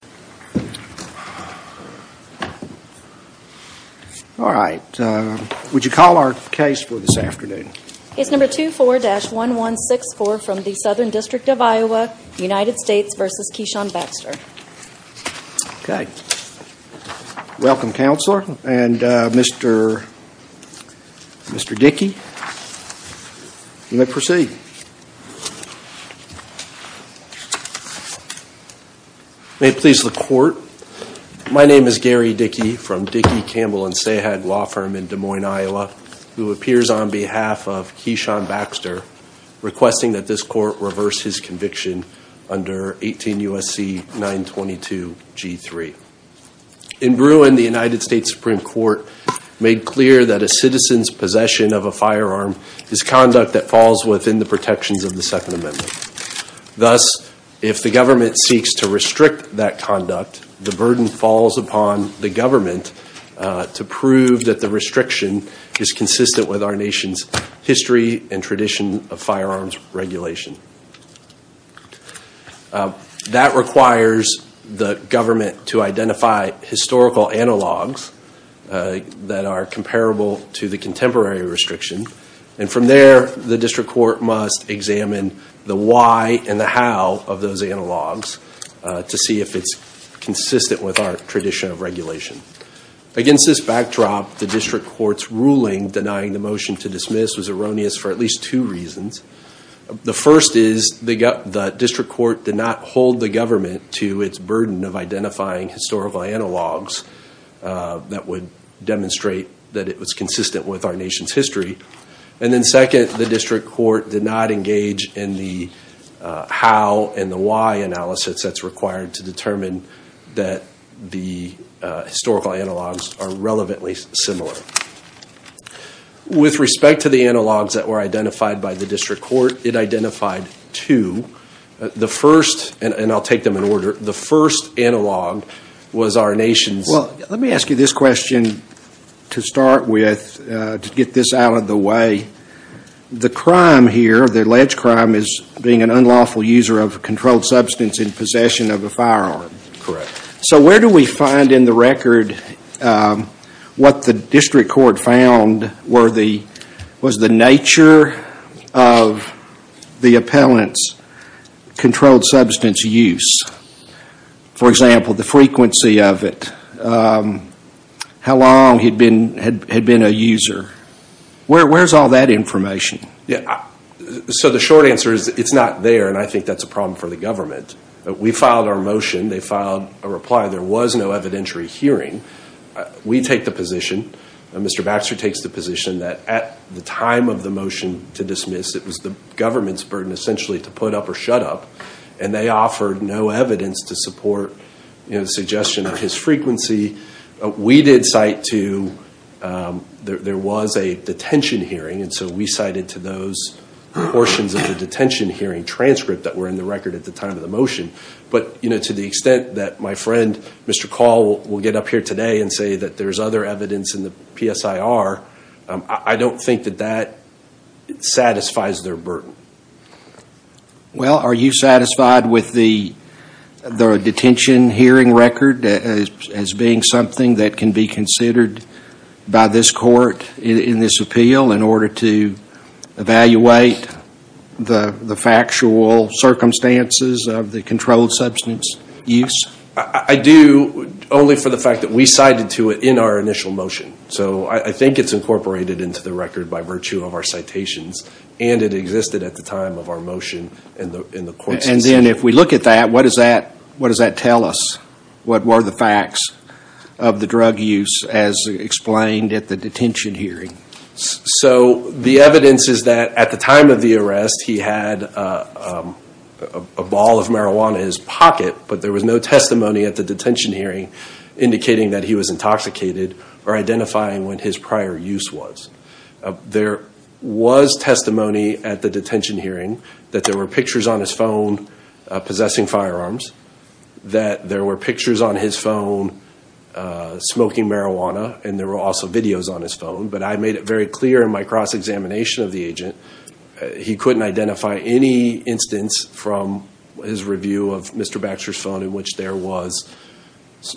Welcome, Counselor. And Mr. Dickey, you may proceed. May it please the Court, my name is Gary Dickey from Dickey, Campbell & Sahag Law Firm in Des Moines, Iowa, who appears on behalf of Keshon Baxter requesting that this Court reverse his conviction under 18 U.S.C. 922 G3. In Bruin, the United States Supreme Court made clear that a citizen's possession of a firearm is conduct that falls within the protections of the Second Amendment. Thus, if the government seeks to restrict that conduct, the burden falls upon the government to prove that the restriction is consistent with our nation's history and tradition of firearms regulation. That requires the government to identify historical analogs that are comparable to the contemporary restriction. And from there, the district court must examine the why and the how of those analogs to see if it's consistent with our tradition of regulation. Against this backdrop, the district court's ruling denying the motion to dismiss was erroneous for at least two reasons. The first is the district court did not hold the government to its burden of identifying historical analogs that would demonstrate that it was consistent with our nation's history. And then second, the district court did not engage in the how and the why analysis that's required to determine that the historical analogs are relevantly similar. With respect to the analogs that were identified by the district court, it identified two. The first, and I'll take them in order, the first analog was our nation's... Well, let me ask you this question to start with to get this out of the way. The crime here, the alleged crime, is being an unlawful user of a controlled substance in possession of a firearm. Correct. So where do we find in the record what the district court found was the nature of the appellant's controlled substance use? For example, the frequency of it, how long he'd been a user. Where's all that information? So the short answer is it's not there and I think that's a problem for the government. We filed our motion. They filed a reply. There was no evidentiary hearing. We take the position, Mr. Baxter takes the position, that at the time of the motion to dismiss, it was the government's burden essentially to put up or shut up and they offered no evidence to support the suggestion of his frequency. We did cite to, there was a detention hearing and so we cited to those portions of the detention hearing transcript that were in the record at the time of the motion. But to the extent that my friend, Mr. Call, will get up here today and say that there's other evidence in the PSIR, I don't think that that satisfies their burden. Well, are you satisfied with the detention hearing record as being something that can be considered by this court in this appeal in order to evaluate the factual circumstances of the controlled substance use? I do, only for the fact that we cited to it in our initial motion. So I think it's incorporated into the record by virtue of our citations and it existed at the time of our motion in the court's decision. And then if we look at that, what does that tell us? What were the facts of the drug use as explained at the detention hearing? So the evidence is that at the time of the arrest, he had a ball of marijuana in his pocket, but there was no testimony at the detention hearing indicating that he was intoxicated or identifying what his prior use was. There was testimony at the detention hearing that there were pictures on his phone possessing firearms, that there were pictures on his phone smoking marijuana, and there were also videos on his phone. But I made it very clear in my cross-examination of the agent, he couldn't identify any instance from his review of Mr. Baxter's phone in which there was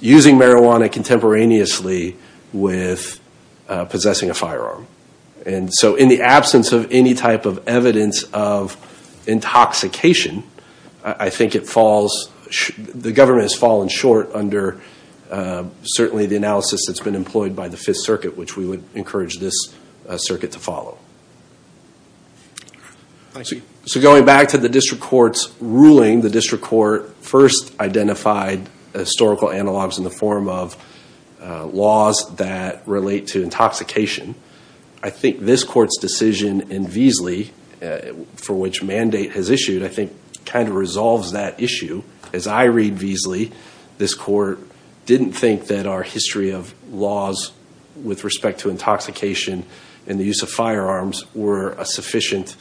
using marijuana contemporaneously with possessing a firearm. And so in the absence of any type of evidence of intoxication, I think it falls, the government has fallen short under certainly the analysis that's been employed by the Fifth Circuit, which we would encourage this circuit to follow. So going back to the district court's ruling, the district court first identified historical analogs in the form of laws that relate to intoxication. I think this court's decision in Veasley, for which mandate has issued, I think kind of resolves that issue. As I read Veasley, this court didn't think that our history of laws with respect to intoxication and the use of firearms were a sufficient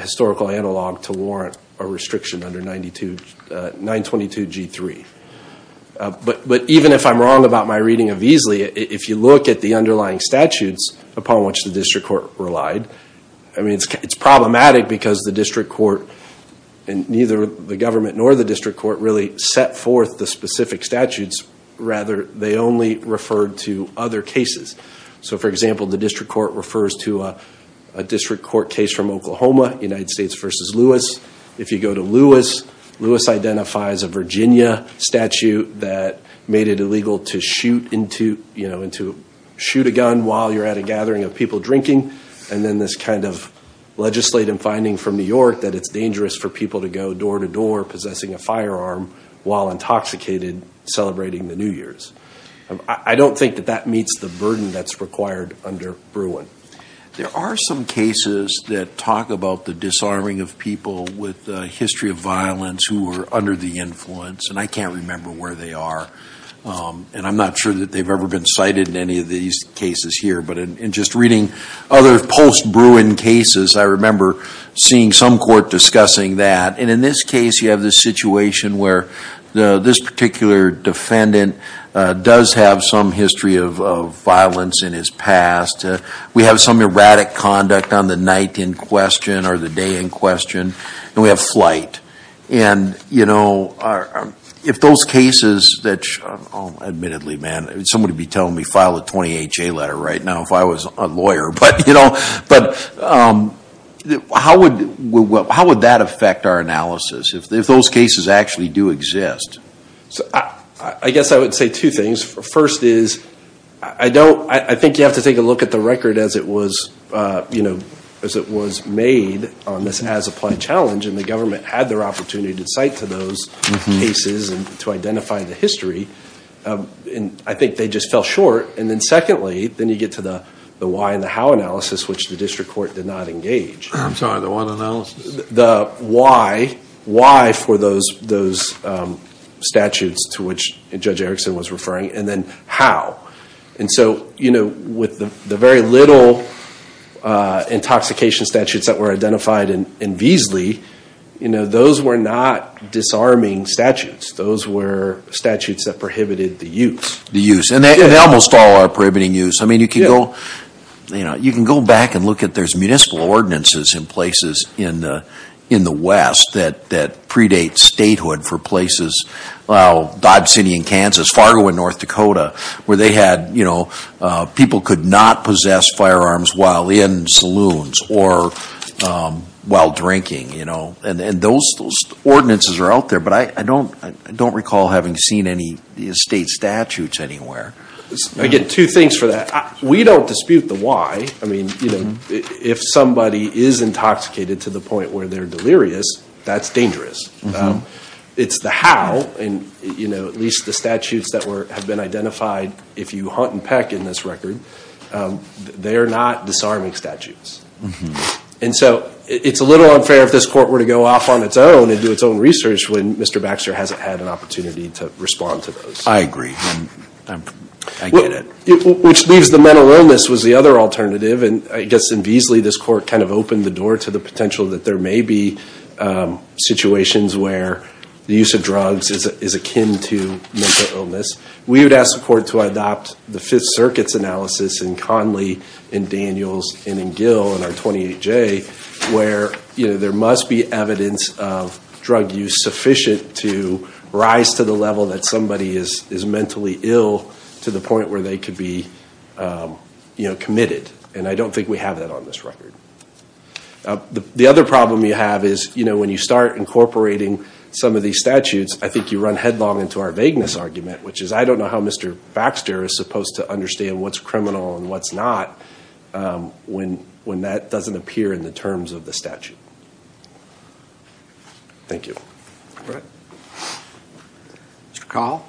historical analog to warrant a restriction under 922 G3. But even if I'm wrong about my reading of Veasley, if you look at the underlying statutes upon which the district court relied, I mean, it's problematic because the district court and neither the government nor the district court really set forth the specific statutes. Rather, they only referred to other cases. So for example, the district court refers to a district court case from Oklahoma, United States versus Lewis. If you go to Lewis, Lewis identifies a Virginia statute that made it illegal to shoot a gun while you're at a gathering of people drinking. And then this kind of legislative finding from New York that it's dangerous for people to go door to door possessing a firearm while intoxicated celebrating the New Year's. I don't think that that meets the burden that's required under Bruin. There are some cases that talk about the disarming of people with history of violence who were under the influence, and I can't remember where they are. And I'm not sure that they've ever been cited in any of these cases here. But in just reading other post-Bruin cases, I remember seeing some court discussing that. And in this case, you have this situation where this particular defendant does have some history of violence in his past. We have some erratic conduct on the night in question or the day in question, and we have flight. And you know, if those cases that admittedly, man, somebody be telling me file a 20HA letter right now if I was a lawyer. But you know, but how would that affect our analysis if those cases actually do exist? So I guess I would say two things. First is, I don't, I think you have to take a look at the record as it was, you know, as it was made on this as-applied challenge, and the government had their opportunity to cite to those cases and to identify the history. And I think they just fell short. And then secondly, then you get to the why and the how analysis, which the district court did not engage. I'm sorry, the what analysis? The why, why for those statutes to which Judge Erickson was referring, and then how. And so, you know, with the very little intoxication statutes that were identified in Beasley, you know, those were not disarming statutes. Those were statutes that prohibited the use. The use, and they almost all are prohibiting use. I mean, you can go, you know, you can go back and look at those municipal ordinances in places in the West that predate statehood for places. Well, Dodge City in Kansas, Fargo in North Dakota, where they had, you know, people could not possess firearms while in saloons or while drinking, you know. And those ordinances are out there. But I don't recall having seen any state statutes anywhere. I get two things for that. We don't dispute the why. I mean, you know, if somebody is intoxicated to the point where they're delirious, that's dangerous. It's the how, and you know, at least the statutes that have been identified, if you hunt and peck in this record, they're not disarming statutes. And so, it's a little unfair if this court were to go off on its own and do its own research when Mr. Baxter hasn't had an opportunity to respond to those. I agree. I get it. Which leaves the mental illness as the other alternative. And I guess in Beasley, this court kind of opened the door to the potential that there may be situations where the use of drugs is akin to mental illness. We would ask the court to adopt the Fifth Circuit's analysis in Conley, in Daniels, and in Gill, in our 28J, where, you know, there must be evidence of drug use sufficient to rise to the level that somebody is mentally ill to the point where they could be, you know, committed. And I don't think we have that on this record. The other problem you have is, you know, when you start incorporating some of these statutes, I think you run headlong into our vagueness argument, which is I don't know how Mr. Baxter is supposed to understand what's criminal and what's not when that doesn't appear in the terms of the statute. Thank you. Mr. Call?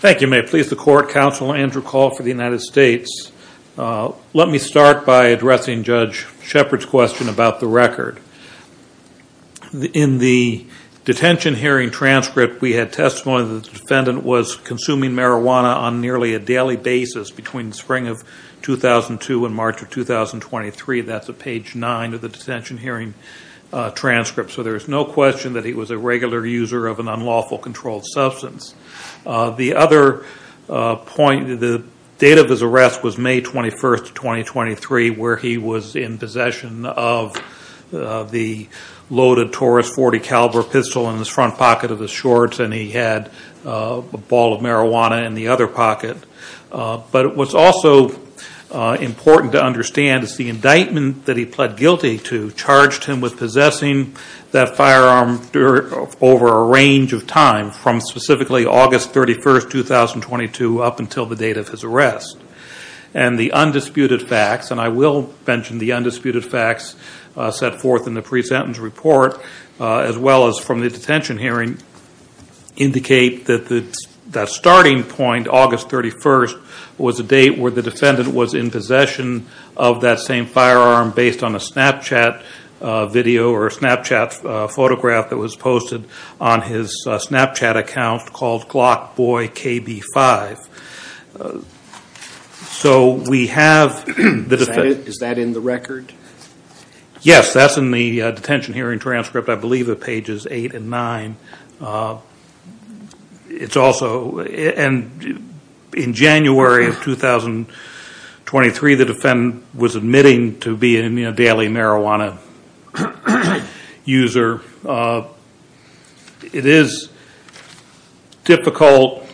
Thank you. May it please the court, Counsel Andrew Call for the United States. Let me start by addressing Judge Shepard's question about the record. In the detention hearing transcript, we had testimony that the defendant was consuming marijuana on nearly a daily basis between the spring of 2002 and March of 2023. That's at page 9 of the detention hearing transcript. So there's no question that he was a regular user of an unlawful controlled substance. The other point, the date of his arrest was May 21st, 2023, where he was in possession of the loaded Taurus .40 caliber pistol in his front pocket of his shorts, and he had a ball of marijuana in the other pocket. But what's also important to understand is the indictment that he pled guilty to charged him with possessing that firearm over a range of time from specifically August 31st, 2022 up until the date of his arrest. And the undisputed facts, and I will mention the undisputed facts set forth in the pre-sentence report as well as from the detention hearing, indicate that the starting point, August 31st, was a date where the defendant was in possession of that same firearm based on a Snapchat video or a Snapchat photograph that was posted on his Snapchat account called GlockboyKB5. So we have the defendant... Is that in the record? Yes, that's in the detention hearing transcript, I believe, at pages 8 and 9. It's also... In January of 2023, the defendant was admitting to being a daily marijuana user. It is difficult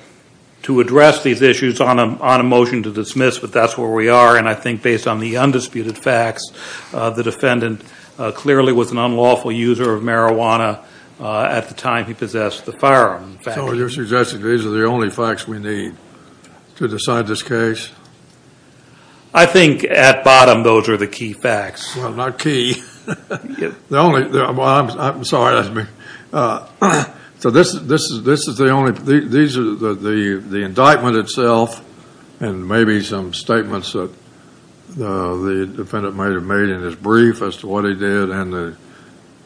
to address these issues on a motion to dismiss, but that's where we are. And I think based on the undisputed facts, the defendant clearly was an unlawful user of marijuana at the time he possessed the firearm. So you're suggesting these are the only facts we need to decide this case? I think at bottom those are the key facts. Well, not key. The only... I'm sorry. So this is the only... These are the indictment itself and maybe some statements that the defendant may have made in his brief as to what he did and the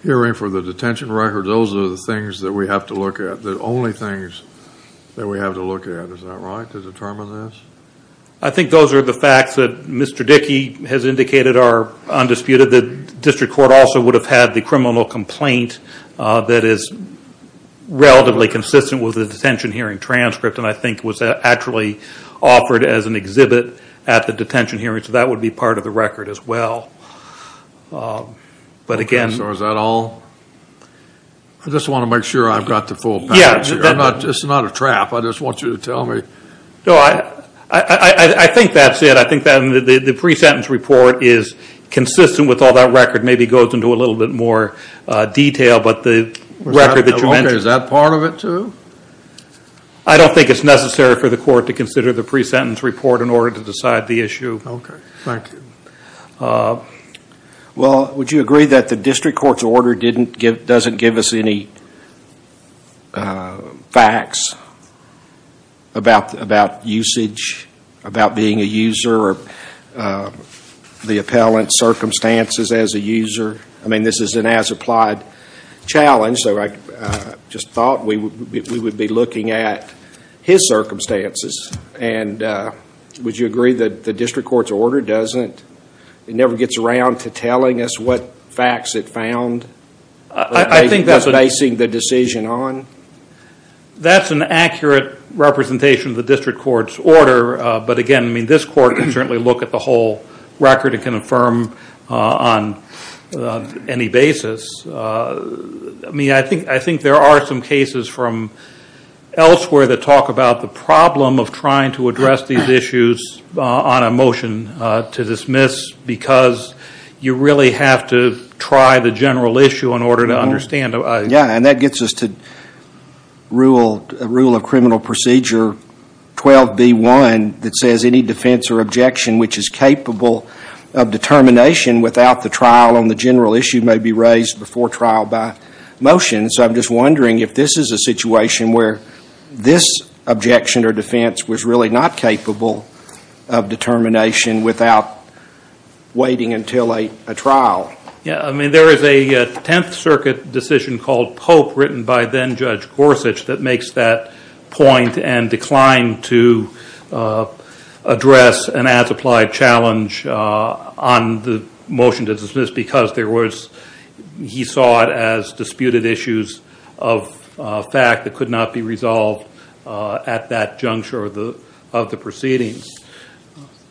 hearing for the detention record. Those are the things that we have to look at. The only things that we have to look at, is that right, to determine this? I think those are the facts that Mr. Dickey has indicated are undisputed. The district court also would have had the criminal complaint that is relatively consistent with the detention hearing transcript. And I think was actually offered as an exhibit at the detention hearing. So that would be part of the record as well. But again... So is that all? I just want to make sure I've got the full package here. It's not a trap. I just want you to tell me. No, I think that's it. I think that the pre-sentence report is consistent with all that record. Maybe it goes into a little bit more detail. But the record that you mentioned... Is that part of it too? I don't think it's necessary for the court to consider the pre-sentence report in order to decide the issue. Okay. Thank you. Well, would you agree that the district court's order doesn't give us any facts about usage, about being a user, or the appellant's circumstances as a user? I mean, this is an as-applied challenge. So I just thought we would be looking at his circumstances. And would you agree that the district court's order doesn't... It never gets around to telling us what facts it found? I think that's... That's basing the decision on? That's an accurate representation of the district court's order. But again, I mean, this court can certainly look at the whole record and confirm on any basis. I mean, I think there are some cases from elsewhere that talk about the problem of trying to address these issues on a motion to dismiss because you really have to try the general issue in order to understand. Yeah, and that gets us to Rule of Criminal Procedure 12B1 that says, which is capable of determination without the trial on the general issue may be raised before trial by motion. So I'm just wondering if this is a situation where this objection or defense was really not capable of determination without waiting until a trial. Yeah, I mean, there is a Tenth Circuit decision called Pope written by then-Judge Gorsuch that makes that point and declined to address an as-applied challenge on the motion to dismiss because he saw it as disputed issues of fact that could not be resolved at that juncture of the proceedings.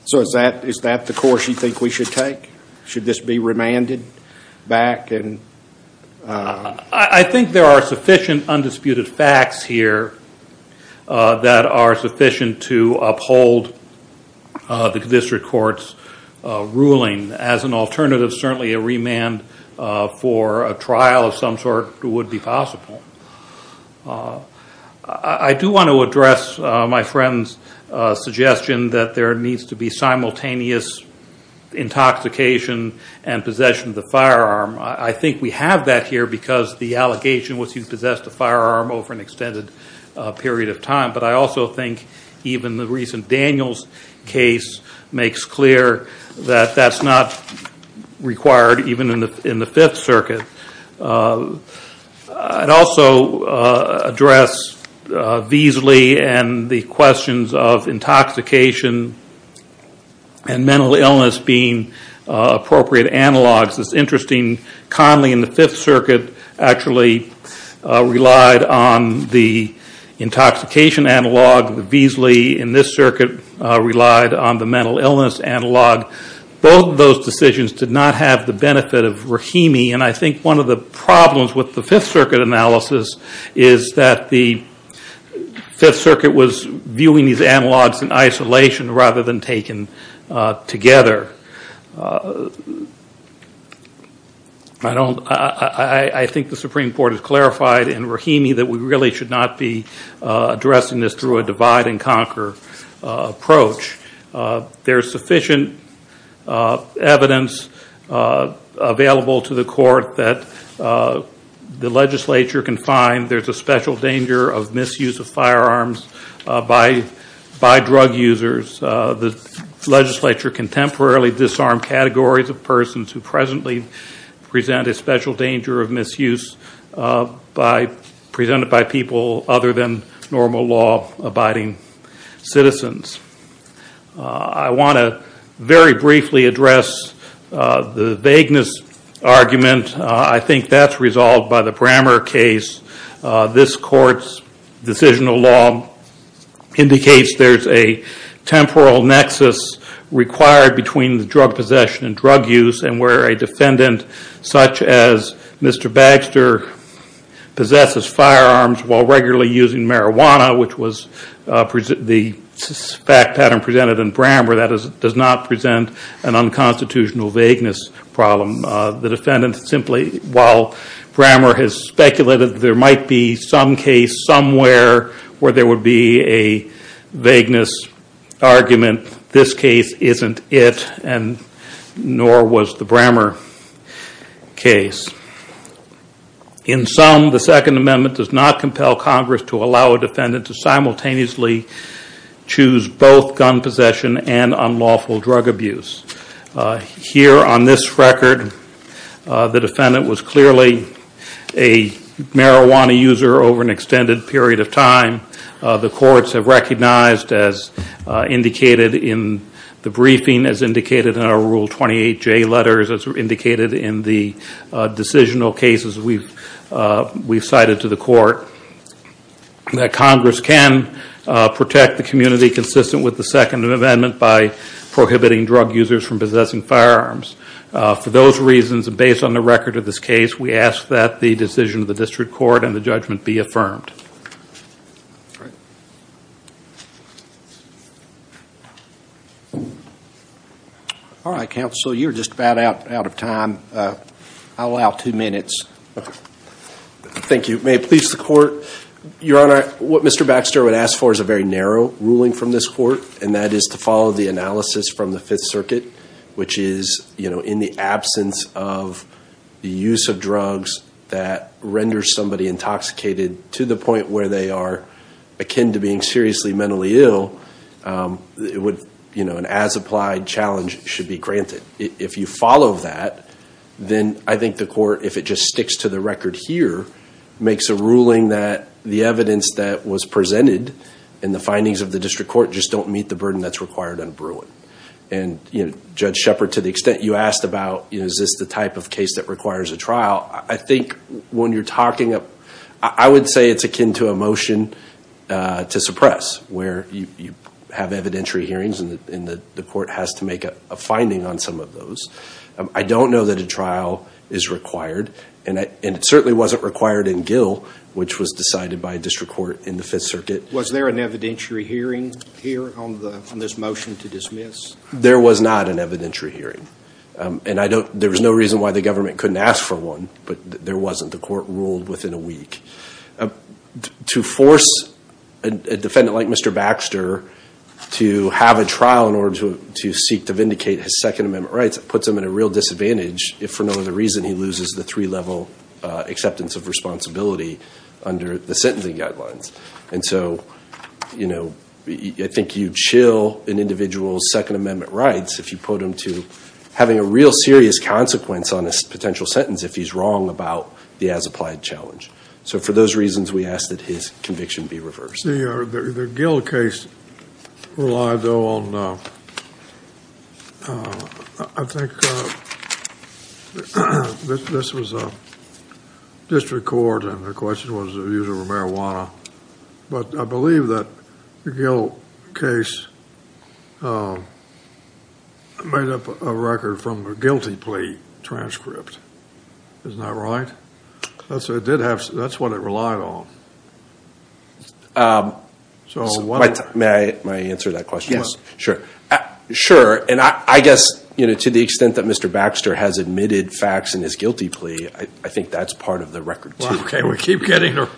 So is that the course you think we should take? Should this be remanded back? I think there are sufficient undisputed facts here that are sufficient to uphold the district court's ruling. As an alternative, certainly a remand for a trial of some sort would be possible. I do want to address my friend's suggestion that there needs to be simultaneous intoxication and possession of the firearm. I think we have that here because the allegation was he possessed a firearm over an extended period of time, but I also think even the recent Daniels case makes clear that that's not required even in the Fifth Circuit. I'd also address Veasley and the questions of intoxication and mental illness being appropriate analogs. It's interesting Conley in the Fifth Circuit actually relied on the intoxication analog. Veasley in this circuit relied on the mental illness analog. Both of those decisions did not have the benefit of Rahimi, and I think one of the problems with the Fifth Circuit analysis is that the Fifth Circuit was viewing these analogs in isolation rather than taken together. I think the Supreme Court has clarified in Rahimi that we really should not be addressing this through a divide and conquer approach. There's sufficient evidence available to the court that the legislature can find there's a special danger of misuse of firearms by drug users. The legislature can temporarily disarm categories of persons who presently present a special danger of misuse presented by people other than normal law-abiding citizens. I want to very briefly address the vagueness argument. I think that's resolved by the Brammer case. This court's decisional law indicates there's a temporal nexus required between the drug possession and drug use, and where a defendant such as Mr. Baxter possesses firearms while regularly using marijuana, which was the fact pattern presented in Brammer, that does not present an unconstitutional vagueness problem. The defendant simply, while Brammer has speculated there might be some case somewhere where there would be a vagueness argument, this case isn't it, and nor was the Brammer case. In sum, the Second Amendment does not compel Congress to allow a defendant to simultaneously choose both gun possession and unlawful drug abuse. Here on this record, the defendant was clearly a marijuana user over an extended period of time. The courts have recognized, as indicated in the briefing, as indicated in our Rule 28J letters, as indicated in the decisional cases we've cited to the court, that Congress can protect the community consistent with the Second Amendment by prohibiting drug users from possessing firearms. For those reasons, and based on the record of this case, we ask that the decision of the district court and the judgment be affirmed. All right, counsel, you're just about out of time. I'll allow two minutes. Thank you. May it please the court? Your Honor, what Mr. Baxter would ask for is a very narrow ruling from this court, and that is to follow the analysis from the Fifth Circuit, which is in the absence of the use of drugs that renders somebody intoxicated to the point where they are akin to being seriously mentally ill, an as-applied challenge should be granted. If you follow that, then I think the court, if it just sticks to the record here, makes a ruling that the evidence that was presented in the findings of the district court just don't meet the burden that's required in a brewing. Judge Shepard, to the extent you asked about is this the type of case that requires a trial, I think when you're talking up, I would say it's akin to a motion to suppress, where you have evidentiary hearings and the court has to make a finding on some of those. I don't know that a trial is required, and it certainly wasn't required in Gill, which was decided by a district court in the Fifth Circuit. Was there an evidentiary hearing here on this motion to dismiss? There was not an evidentiary hearing, and there was no reason why the government couldn't ask for one, but there wasn't. The court ruled within a week. To force a defendant like Mr. Baxter to have a trial in order to seek to vindicate his Second Amendment rights, it puts him at a real disadvantage if for no other reason he loses the three-level acceptance of responsibility under the sentencing guidelines. And so I think you chill an individual's Second Amendment rights if you put him to having a real serious consequence on a potential sentence if he's wrong about the as-applied challenge. So for those reasons, we ask that his conviction be reversed. The Gill case relied, though, on – I think this was a district court, and the question was the use of marijuana. But I believe that the Gill case made up a record from the guilty plea transcript. Isn't that right? That's what it relied on. May I answer that question? Sure. Sure, and I guess to the extent that Mr. Baxter has admitted facts in his guilty plea, I think that's part of the record, too. Okay, we keep getting – we're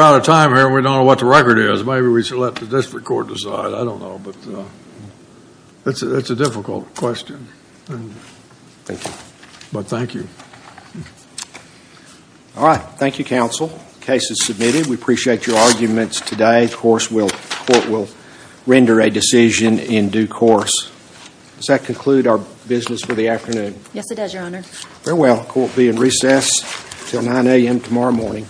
out of time here, and we don't know what the record is. Maybe we should let the district court decide. I don't know, but it's a difficult question. Thank you. But thank you. All right. Thank you, counsel. The case is submitted. We appreciate your arguments today. Of course, the court will render a decision in due course. Does that conclude our business for the afternoon? Yes, it does, Your Honor. Very well. The court will be in recess until 9 a.m. tomorrow morning.